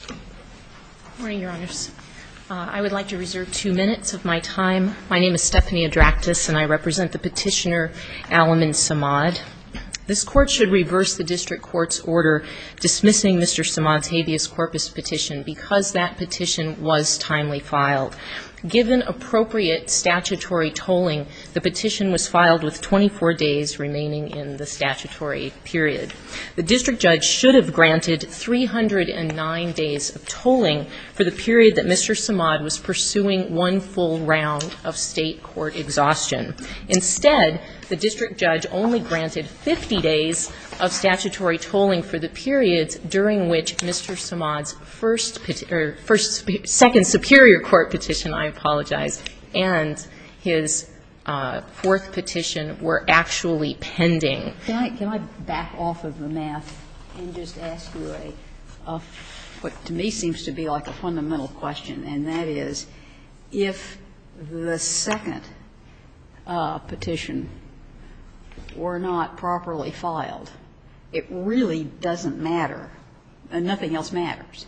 Good morning, Your Honors. I would like to reserve two minutes of my time. My name is Stephanie Adraktis, and I represent the petitioner Alamin Samad. This Court should reverse the District Court's order dismissing Mr. Samad's habeas corpus petition because that petition was timely filed. Given appropriate statutory tolling, the petition was filed with 24 days remaining in the statutory period. The District Judge should have granted 309 days of tolling for the period that Mr. Samad was pursuing one full round of State court exhaustion. Instead, the District Judge only granted 50 days of statutory tolling for the periods during which Mr. Samad's second Superior Court petition, I apologize, and his fourth petition were actually pending. Can I back off of the math and just ask you a, what to me seems to be like a fundamental question, and that is, if the second petition were not properly filed, it really doesn't matter and nothing else matters.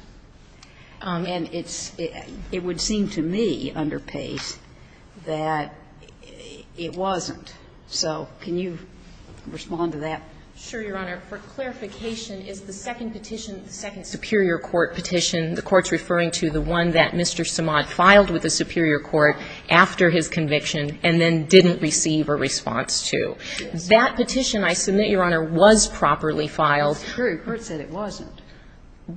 And it would seem to me under Pace that it wasn't. So can you respond to that? Sure, Your Honor. For clarification, is the second petition, the second Superior Court petition, the Court's referring to the one that Mr. Samad filed with the Superior Court after his conviction and then didn't receive a response to? That petition, I submit, Your Honor, was properly filed. The Superior Court said it wasn't.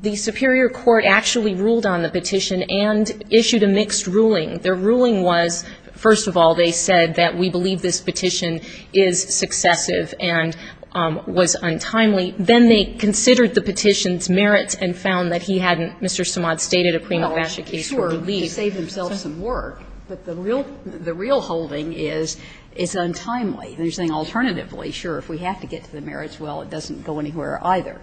The Superior Court actually ruled on the petition and issued a mixed ruling. Their ruling was, first of all, they said that we believe this petition is successive and was untimely. Then they considered the petition's merits and found that he hadn't, Mr. Samad stated, a prima facie case for relief. Well, sure, he saved himself some work. But the real holding is it's untimely. They're saying alternatively, sure, if we have to get to the merits, well, it doesn't go anywhere either.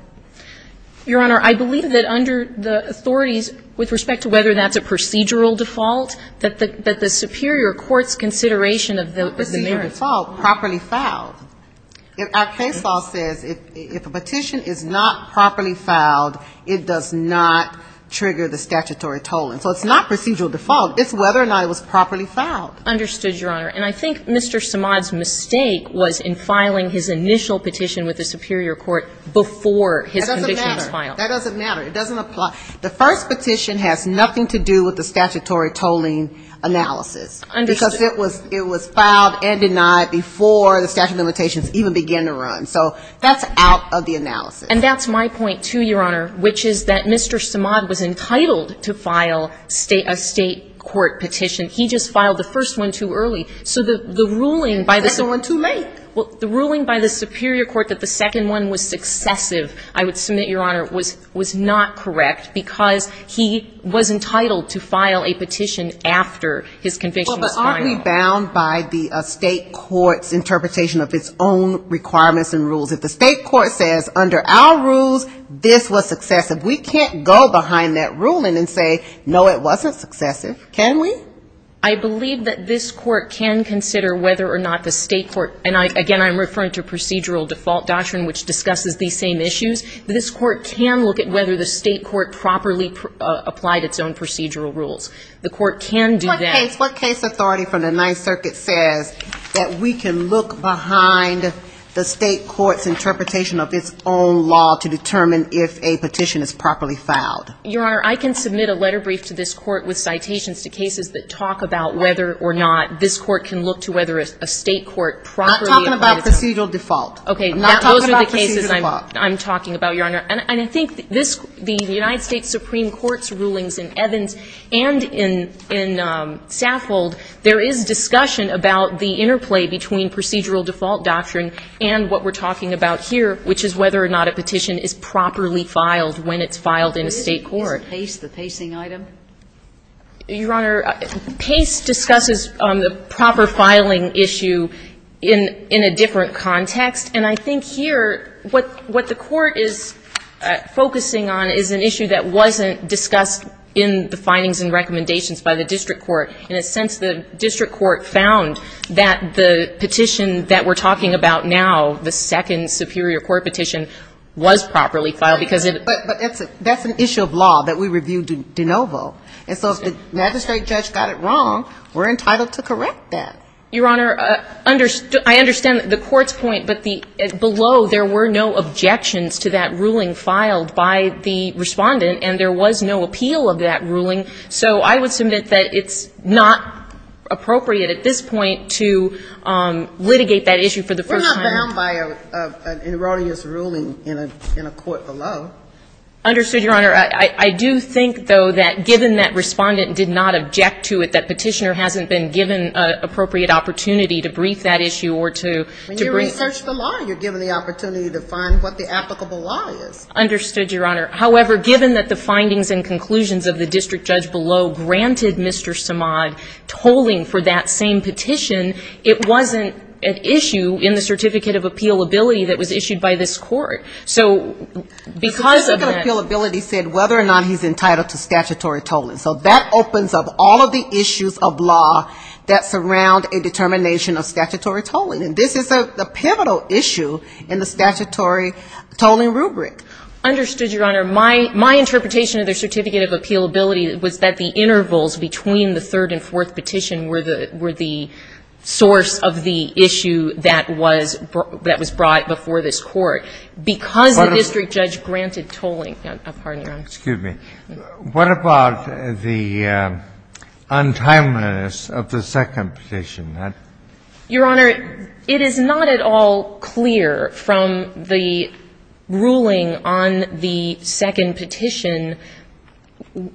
Your Honor, I believe that under the authorities, with respect to whether that's a procedural default, that the Superior Court's consideration of the merits. It's not procedural default. Properly filed. Our case law says if a petition is not properly filed, it does not trigger the statutory tolling. So it's not procedural default. It's whether or not it was properly filed. Understood, Your Honor. And I think Mr. Samad's mistake was in filing his initial petition with the Superior Court before his conviction was filed. That doesn't matter. It doesn't apply. The first petition has nothing to do with the statutory tolling analysis. Understood. Because it was filed and denied before the statute of limitations even began to run. So that's out of the analysis. And that's my point, too, Your Honor, which is that Mr. Samad was entitled to file a state court petition. He just filed the first one too early. So the ruling by the Superior Court that the second one was successive, I would say that's a mistake because he was entitled to file a petition after his conviction was filed. Well, but aren't we bound by the state court's interpretation of its own requirements and rules? If the state court says under our rules, this was successive, we can't go behind that ruling and say, no, it wasn't successive. Can we? I believe that this court can consider whether or not the state court, and, again, I'm referring to procedural default doctrine, which discusses these same issues. This court can look at whether the state court properly applied its own procedural rules. The court can do that. What case authority from the Ninth Circuit says that we can look behind the state court's interpretation of its own law to determine if a petition is properly filed? Your Honor, I can submit a letter brief to this court with citations to cases that talk about whether or not this court can look to whether a state court properly applied its own rules. I'm not talking about procedural default. I'm not talking about procedural default. Okay. Those are the cases I'm talking about, Your Honor. And I think this the United States Supreme Court's rulings in Evans and in Saffold, there is discussion about the interplay between procedural default doctrine and what we're talking about here, which is whether or not a petition is properly filed when it's filed in a state court. Is Pace the pacing item? Your Honor, Pace discusses the proper filing issue in a different context. And I think here what the court is focusing on is an issue that wasn't discussed in the findings and recommendations by the district court. In a sense, the district court found that the petition that we're talking about now, the second superior court petition, was properly filed because it was. But that's an issue of law that we reviewed de novo. And so if the magistrate judge got it wrong, we're entitled to correct that. Your Honor, I understand the court's point, but below there were no objections to that ruling filed by the Respondent, and there was no appeal of that ruling. So I would submit that it's not appropriate at this point to litigate that issue for the first time. It was found by an erroneous ruling in a court below. Understood, Your Honor. I do think, though, that given that Respondent did not object to it, that Petitioner hasn't been given an appropriate opportunity to brief that issue or to brief. When you research the law, you're given the opportunity to find what the applicable law is. Understood, Your Honor. However, given that the findings and conclusions of the district judge below granted Mr. Samad tolling for that same petition, it wasn't an issue in the Certificate of Appealability that was issued by this court. So because of that ---- The Certificate of Appealability said whether or not he's entitled to statutory tolling. So that opens up all of the issues of law that surround a determination of statutory tolling. And this is a pivotal issue in the statutory tolling rubric. Understood, Your Honor. My interpretation of the Certificate of Appealability was that the intervals between the third and fourth petition were the source of the issue that was brought before this court. Because the district judge granted tolling ---- Excuse me. What about the untimeliness of the second petition? Your Honor, it is not at all clear from the ruling on the second petition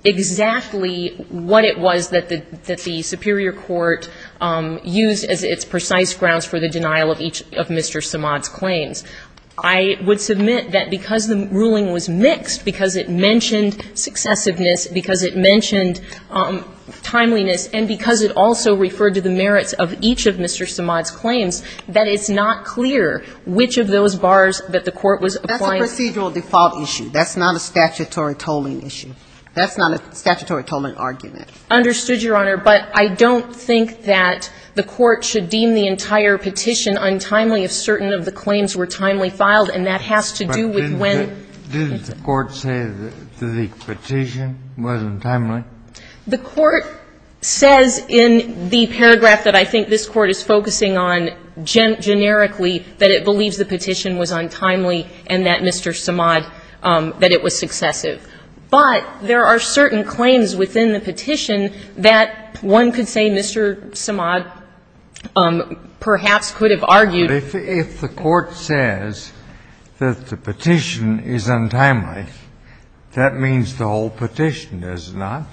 exactly what it was that the superior court used as its precise grounds for the denial of each of Mr. Samad's claims. I would submit that because the ruling was mixed, because it mentioned successiveness, because it mentioned timeliness, and because it also referred to the merits of each of Mr. Samad's claims, that it's not clear which of those bars that the court was applying to. That's a procedural default issue. That's not a statutory tolling issue. That's not a statutory tolling argument. Understood, Your Honor. But I don't think that the court should deem the entire petition untimely if certain of the claims were timely filed, and that has to do with when ---- Did the court say that the petition was untimely? The court says in the paragraph that I think this Court is focusing on generically that it believes the petition was untimely and that Mr. Samad ---- that it was successive. But there are certain claims within the petition that one could say Mr. Samad perhaps could have argued ---- But if the court says that the petition is untimely, that means the whole petition does not?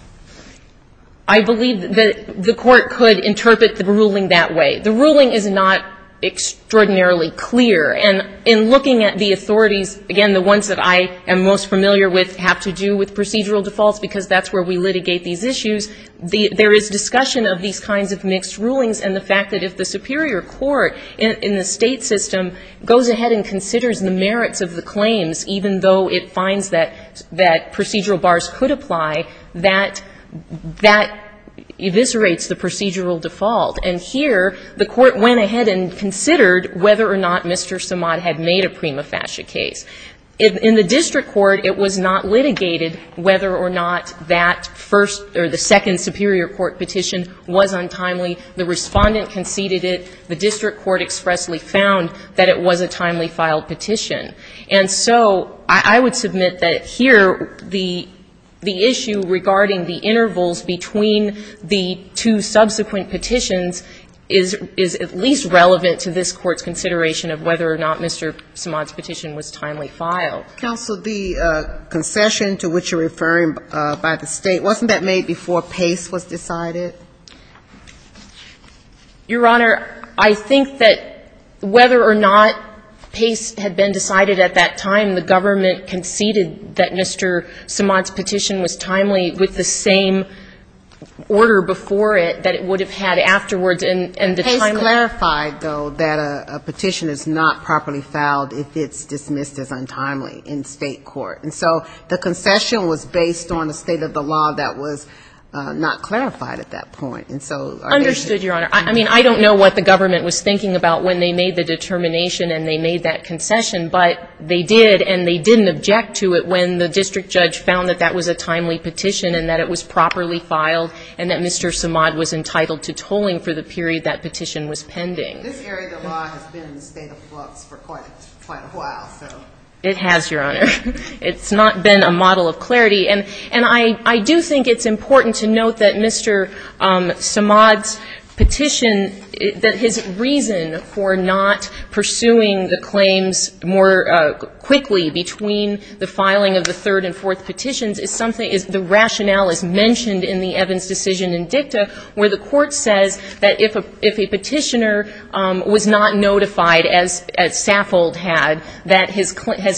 I believe that the court could interpret the ruling that way. The ruling is not extraordinarily clear. And in looking at the authorities, again, the ones that I am most familiar with have to do with procedural defaults because that's where we litigate these issues. There is discussion of these kinds of mixed rulings and the fact that if the superior court in the State system goes ahead and considers the merits of the claims, even though it finds that procedural bars could apply, that that eviscerates the procedural default. And here the court went ahead and considered whether or not Mr. Samad had made a prima facie case. In the district court, it was not litigated whether or not that first or the second superior court petition was untimely. The Respondent conceded it. The district court expressly found that it was a timely filed petition. And so I would submit that here the issue regarding the intervals between the two subsequent petitions is at least relevant to this Court's consideration of whether or not Mr. Samad's petition was timely filed. Counsel, the concession to which you're referring by the State, wasn't that made before Pace was decided? Your Honor, I think that whether or not Pace had been decided at that time, the government conceded that Mr. Samad's petition was timely with the same order before it that it would have had afterwards. And the time of the court. Pace clarified, though, that a petition is not properly filed if it's dismissed as untimely in State court. And so the concession was based on the state of the law that was not clarified at that point. And so are there any other questions? Understood, Your Honor. I mean, I don't know what the government was thinking about when they made the determination and they made that concession, but they did and they didn't object to it when the district judge found that that was a timely petition and that it was properly filed and that Mr. Samad was entitled to tolling for the period that petition was pending. This area of the law has been in a state of flux for quite a while, so. It has, Your Honor. It's not been a model of clarity. And I do think it's important to note that Mr. Samad's petition, that his reason for not pursuing the claims more quickly between the filing of the third and fourth petitions is something, is the rationale is mentioned in the Evans decision in dicta where the court says that if a petitioner was not notified, as Saffold had, that his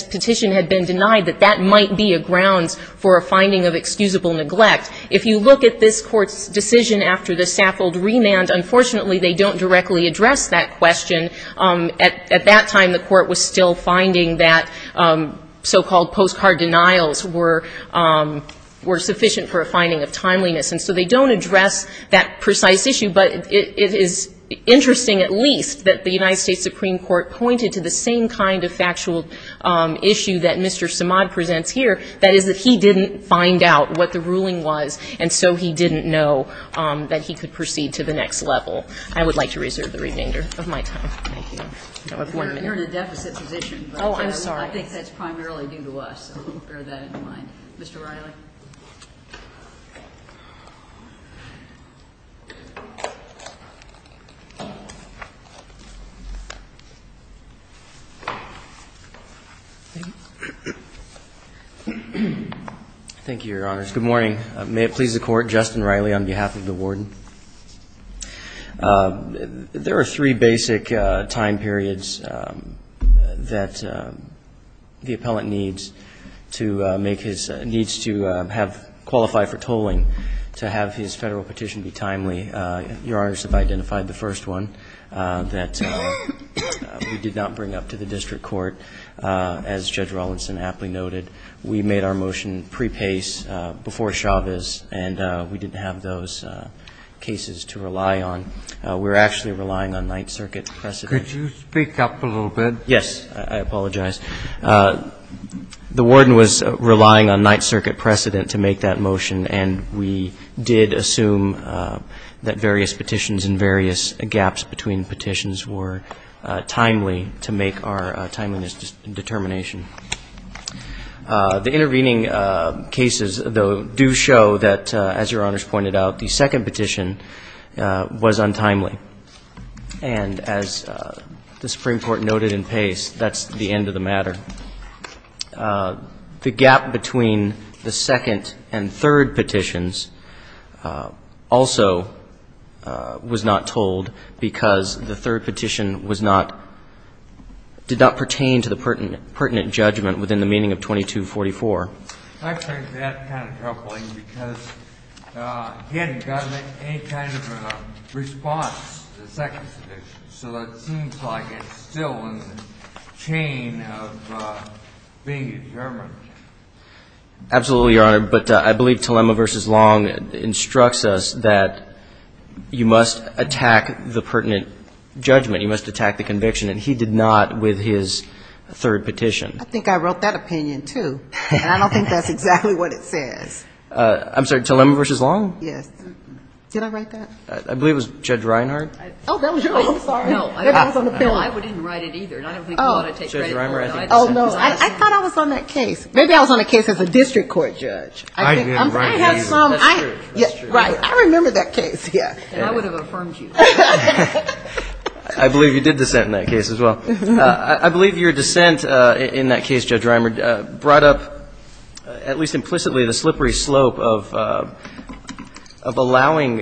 petition had been denied, that that might be a grounds for a finding of excusable neglect. If you look at this Court's decision after the Saffold remand, unfortunately they don't directly address that question. At that time, the Court was still finding that so-called postcard denials were sufficient for a finding of timeliness. And so they don't address that precise issue, but it is interesting at least that the United States Supreme Court pointed to the same kind of factual issue that Mr. Samad presents here, that is that he didn't find out what the ruling was, and so he didn't know that he could proceed to the next level. I would like to reserve the remainder of my time. Thank you. No appointment. You're in a deficit position. Oh, I'm sorry. I think that's primarily due to us, so bear that in mind. Mr. Riley. Thank you, Your Honors. Good morning. May it please the Court. Justin Riley on behalf of the Warden. There are three basic time periods that the appellant needs to make his needs to make First, we need to make a motion to qualify for tolling to have his Federal petition be timely. Your Honors have identified the first one that we did not bring up to the district court. As Judge Rawlinson aptly noted, we made our motion pre-pace before Chavez, and we didn't have those cases to rely on. We're actually relying on Ninth Circuit precedent. Could you speak up a little bit? Yes. I apologize. The Warden was relying on Ninth Circuit precedent to make that motion, and we did assume that various petitions and various gaps between petitions were timely to make our timeliness determination. The intervening cases, though, do show that, as Your Honors pointed out, the second petition was untimely. And as the Supreme Court noted in pace, that's the end of the matter. The gap between the second and third petitions also was not told because the third petition was not — did not pertain to the pertinent judgment within the meaning of 2244. I find that kind of troubling because he hadn't gotten any kind of response to the second petition. So it seems like it's still in the chain of being determined. Absolutely, Your Honor. But I believe Telema v. Long instructs us that you must attack the pertinent judgment. You must attack the conviction, and he did not with his third petition. I think I wrote that opinion, too. And I don't think that's exactly what it says. I'm sorry. Telema v. Long? Yes. Did I write that? I believe it was Judge Reinhardt. Oh, that was yours. I'm sorry. No, I didn't write it either. I don't think you ought to take credit for it. Judge Reinhardt, I think you did. Oh, no. I thought I was on that case. Maybe I was on a case as a district court judge. I have some — That's true. That's true. Right. I remember that case, yeah. And I would have affirmed you. I believe you did dissent in that case as well. I believe your dissent in that case, Judge Reinhardt, brought up at least implicitly the slippery slope of allowing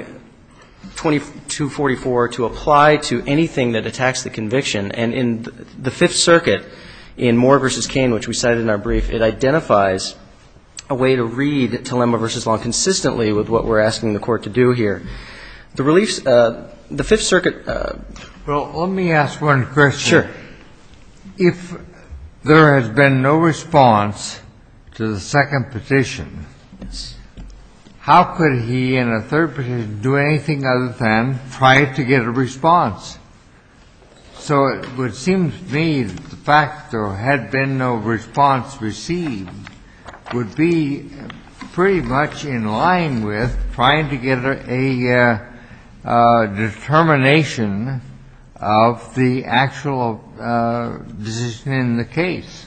2244 to apply to anything that attacks the conviction. And in the Fifth Circuit, in Moore v. Cain, which we cited in our brief, it identifies a way to read Telema v. Long consistently with what we're asking the Court to do here. The reliefs — the Fifth Circuit — Well, let me ask one question. Sure. If there has been no response to the second petition, how could he in a third petition do anything other than try to get a response? So it would seem to me that the fact there had been no response received would be pretty much in line with trying to get a determination of the actual decision in the case.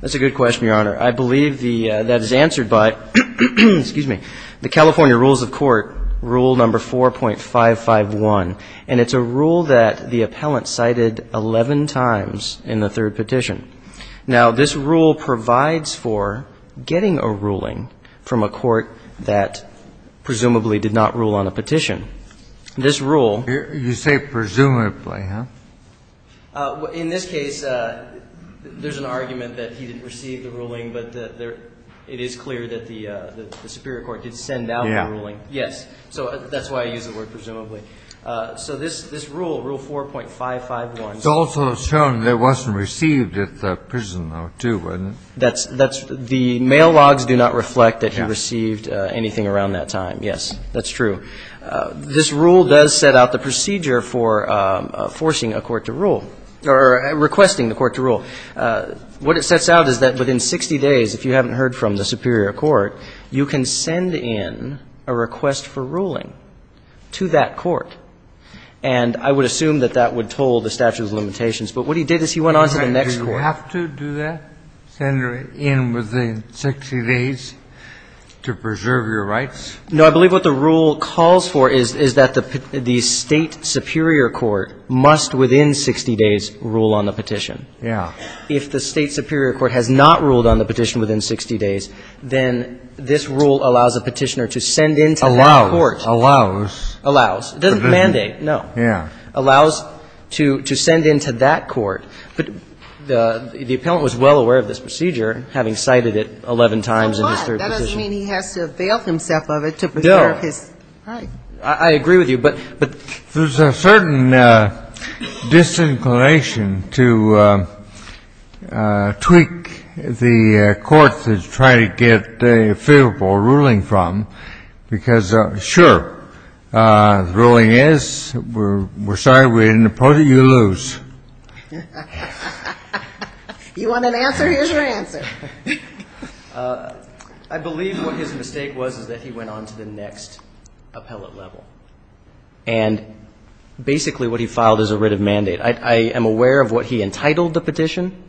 That's a good question, Your Honor. I believe the — that is answered by — excuse me — the California Rules of Court, Rule No. 4.551. And it's a rule that the appellant cited 11 times in the third petition. Now, this rule provides for getting a ruling from a court that presumably did not rule on a petition. This rule — You say presumably, huh? In this case, there's an argument that he didn't receive the ruling, but it is clear that the superior court did send out the ruling. Yeah. Yes. So that's why I use the word presumably. So this rule, Rule 4.551 — It's also shown it wasn't received at the prison, though, too, wasn't it? That's — the mail logs do not reflect that he received anything around that time. Yes, that's true. This rule does set out the procedure for forcing a court to rule or requesting the court to rule. What it sets out is that within 60 days, if you haven't heard from the superior court, you can send in a request for ruling to that court. And I would assume that that would toll the statute of limitations. But what he did is he went on to the next court. Do you have to do that, send her in within 60 days to preserve your rights? No. I believe what the rule calls for is that the State superior court must within 60 days rule on the petition. Yeah. If the State superior court has not ruled on the petition within 60 days, then this rule allows a petitioner to send in to that court. Allows. It doesn't mandate, no. Yeah. Allows to send in to that court. But the appellant was well aware of this procedure, having cited it 11 times in his third position. So what? That doesn't mean he has to avail himself of it to preserve his rights. No. I agree with you, but — but — There's a certain disinclination to tweak the court to try to get a favorable ruling from, because, sure, the ruling is, we're sorry, we didn't approve it, you lose. You want an answer? Here's your answer. I believe what his mistake was is that he went on to the next appellate level. And basically what he filed is a writ of mandate. I am aware of what he entitled the petition,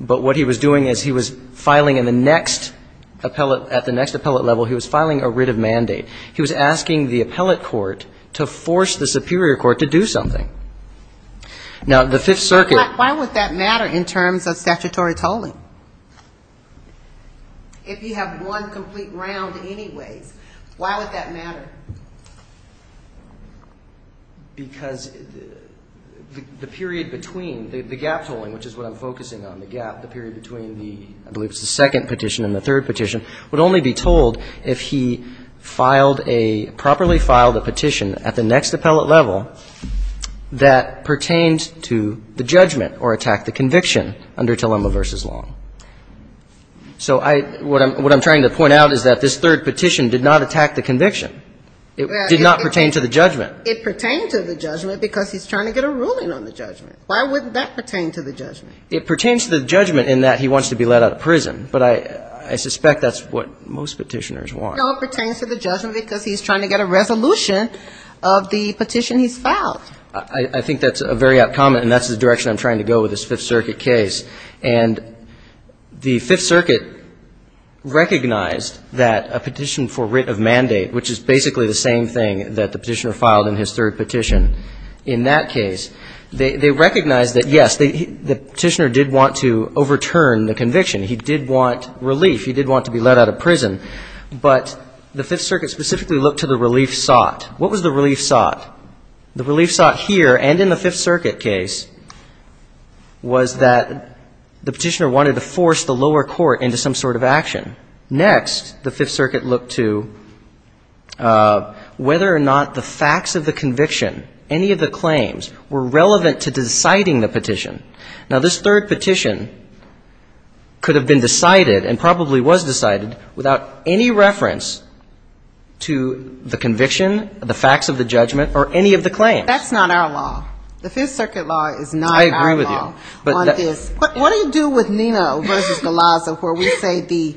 but what he was doing is he was filing in the next appellate — at the next appellate level, he was filing a writ of mandate. He was asking the appellate court to force the superior court to do something. Now, the Fifth Circuit — Why would that matter in terms of statutory tolling? If you have one complete round anyways, why would that matter? Because the period between — the gap tolling, which is what I'm focusing on, the gap, the period between the — I believe it was the second petition and the third petition would only be told if he filed a — properly filed a petition at the next appellate level that pertained to the judgment or attacked the conviction under Telema v. Long. So I — what I'm trying to point out is that this third petition did not attack the conviction. It did not pertain to the judgment. It pertained to the judgment because he's trying to get a ruling on the judgment. Why wouldn't that pertain to the judgment? It pertains to the judgment in that he wants to be let out of prison, but I suspect that's what most petitioners want. No, it pertains to the judgment because he's trying to get a resolution of the petition he's filed. I think that's a very apt comment, and that's the direction I'm trying to go with this Fifth Circuit case. And the Fifth Circuit recognized that a petition for writ of mandate, which is basically the same thing that the petitioner filed in his third petition in that case, they recognized that, yes, the petitioner did want to overturn the conviction. He did want relief. He did want to be let out of prison. But the Fifth Circuit specifically looked to the relief sought. What was the relief sought? The relief sought here and in the Fifth Circuit case was that the petitioner wanted to force the lower court into some sort of action. Next, the Fifth Circuit looked to whether or not the facts of the conviction, any of the claims, were relevant to deciding the petition. Now, this third petition could have been decided and probably was decided without any reference to the conviction, the facts of the judgment, or any of the claims. That's not our law. The Fifth Circuit law is not our law. I agree with you. But what do you do with Nino v. Galazza where we say the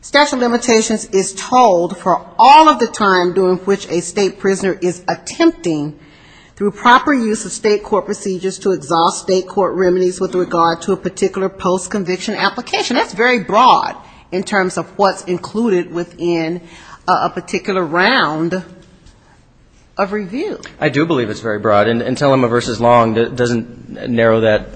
statute of limitations is told for all of the time during which a state prisoner is attempting, through proper use of state court procedures, to exhaust state court remedies with regard to a particular post-conviction application? That's very broad in terms of what's included within a particular round of review. I do believe it's very broad. And Telema v. Long doesn't narrow that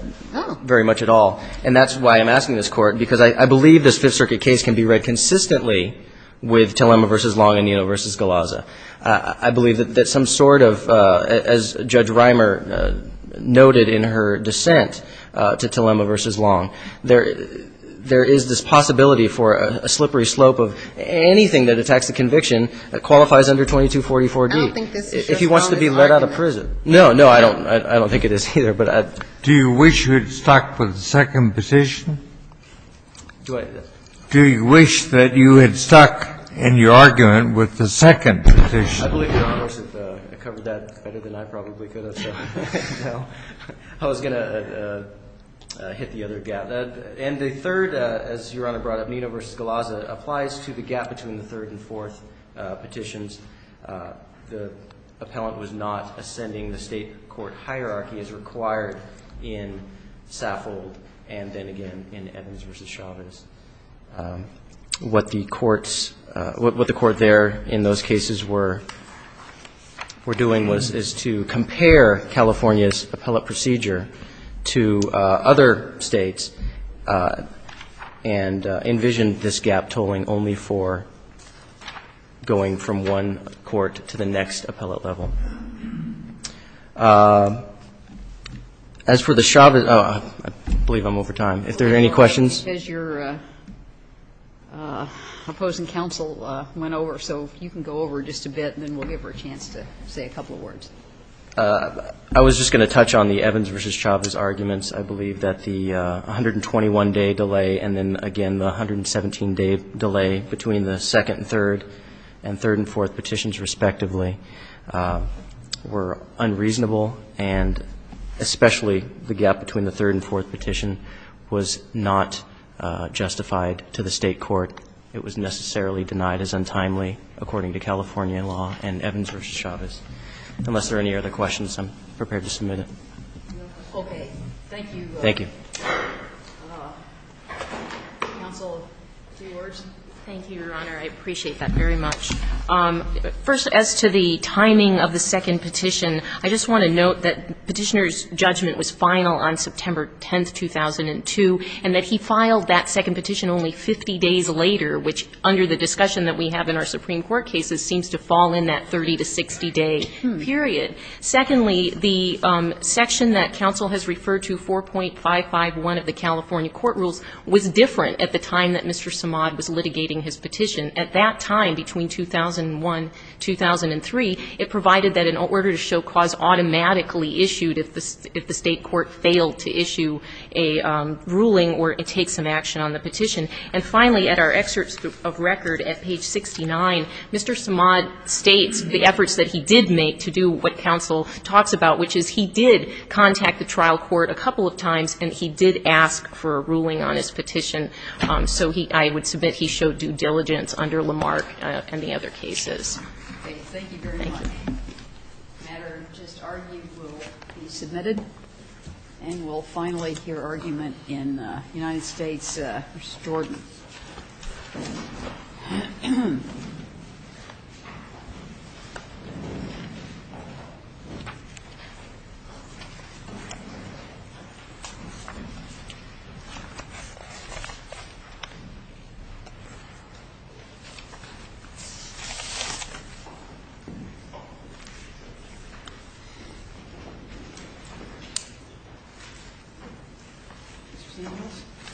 very much at all. And that's why I'm asking this court because I believe this Fifth Circuit case can be read consistently with Telema v. Long and Nino v. Galazza. I believe that some sort of, as Judge Reimer noted in her dissent to Telema v. Long, there is this possibility for a slippery slope of anything that attacks the conviction that qualifies under 2244D. I don't think this is your quality of argument. No, no. I don't think it is either. Do you wish you had stuck with the second petition? Do you wish that you had stuck in your argument with the second petition? I believe Your Honor, I covered that better than I probably could have. I was going to hit the other gap. And the third, as Your Honor brought up, Nino v. Galazza, applies to the gap between the third and fourth petitions. The appellant was not ascending the State court hierarchy as required in Saffold and then again in Evans v. Chavez. What the courts, what the court there in those cases were doing was to compare California's appellate procedure to other States and envisioned this gap tolling only for going from one court to the next appellate level. As for the Chavez, I believe I'm over time. If there are any questions. As your opposing counsel went over. So if you can go over just a bit and then we'll give her a chance to say a couple of words. I was just going to touch on the Evans v. Chavez arguments. I believe that the 121-day delay and then again the 117-day delay between the second and third and third and fourth petitions respectively were unreasonable and especially the gap between the third and fourth petition was not justified to the State court. It was necessarily denied as untimely according to California law and Evans v. Chavez. Unless there are any other questions, I'm prepared to submit it. Okay. Thank you. Thank you. Counsel, three words. Thank you, Your Honor. I appreciate that very much. First, as to the timing of the second petition, I just want to note that petitioner's judgment was final on September 10th, 2002, and that he filed that second petition only 50 days later, which under the discussion that we have in our Supreme Court cases seems to fall in that 30 to 60-day period. Secondly, the section that counsel has referred to, 4.551 of the California Court Rules, was different at the time that Mr. Samad was litigating his petition. At that time, between 2001-2003, it provided that an order to show cause automatically issued if the State court failed to issue a ruling or take some action on the petition. And finally, at our excerpt of record at page 69, Mr. Samad states the efforts that he did make to do what counsel talks about, which is he did contact the trial court a couple of times, and he did ask for a ruling on his petition. So he – I would submit he showed due diligence under Lamarck and the other cases. Okay. Thank you very much. Thank you. The matter just argued will be submitted. And we'll finally hear argument in the United States v. Jordan.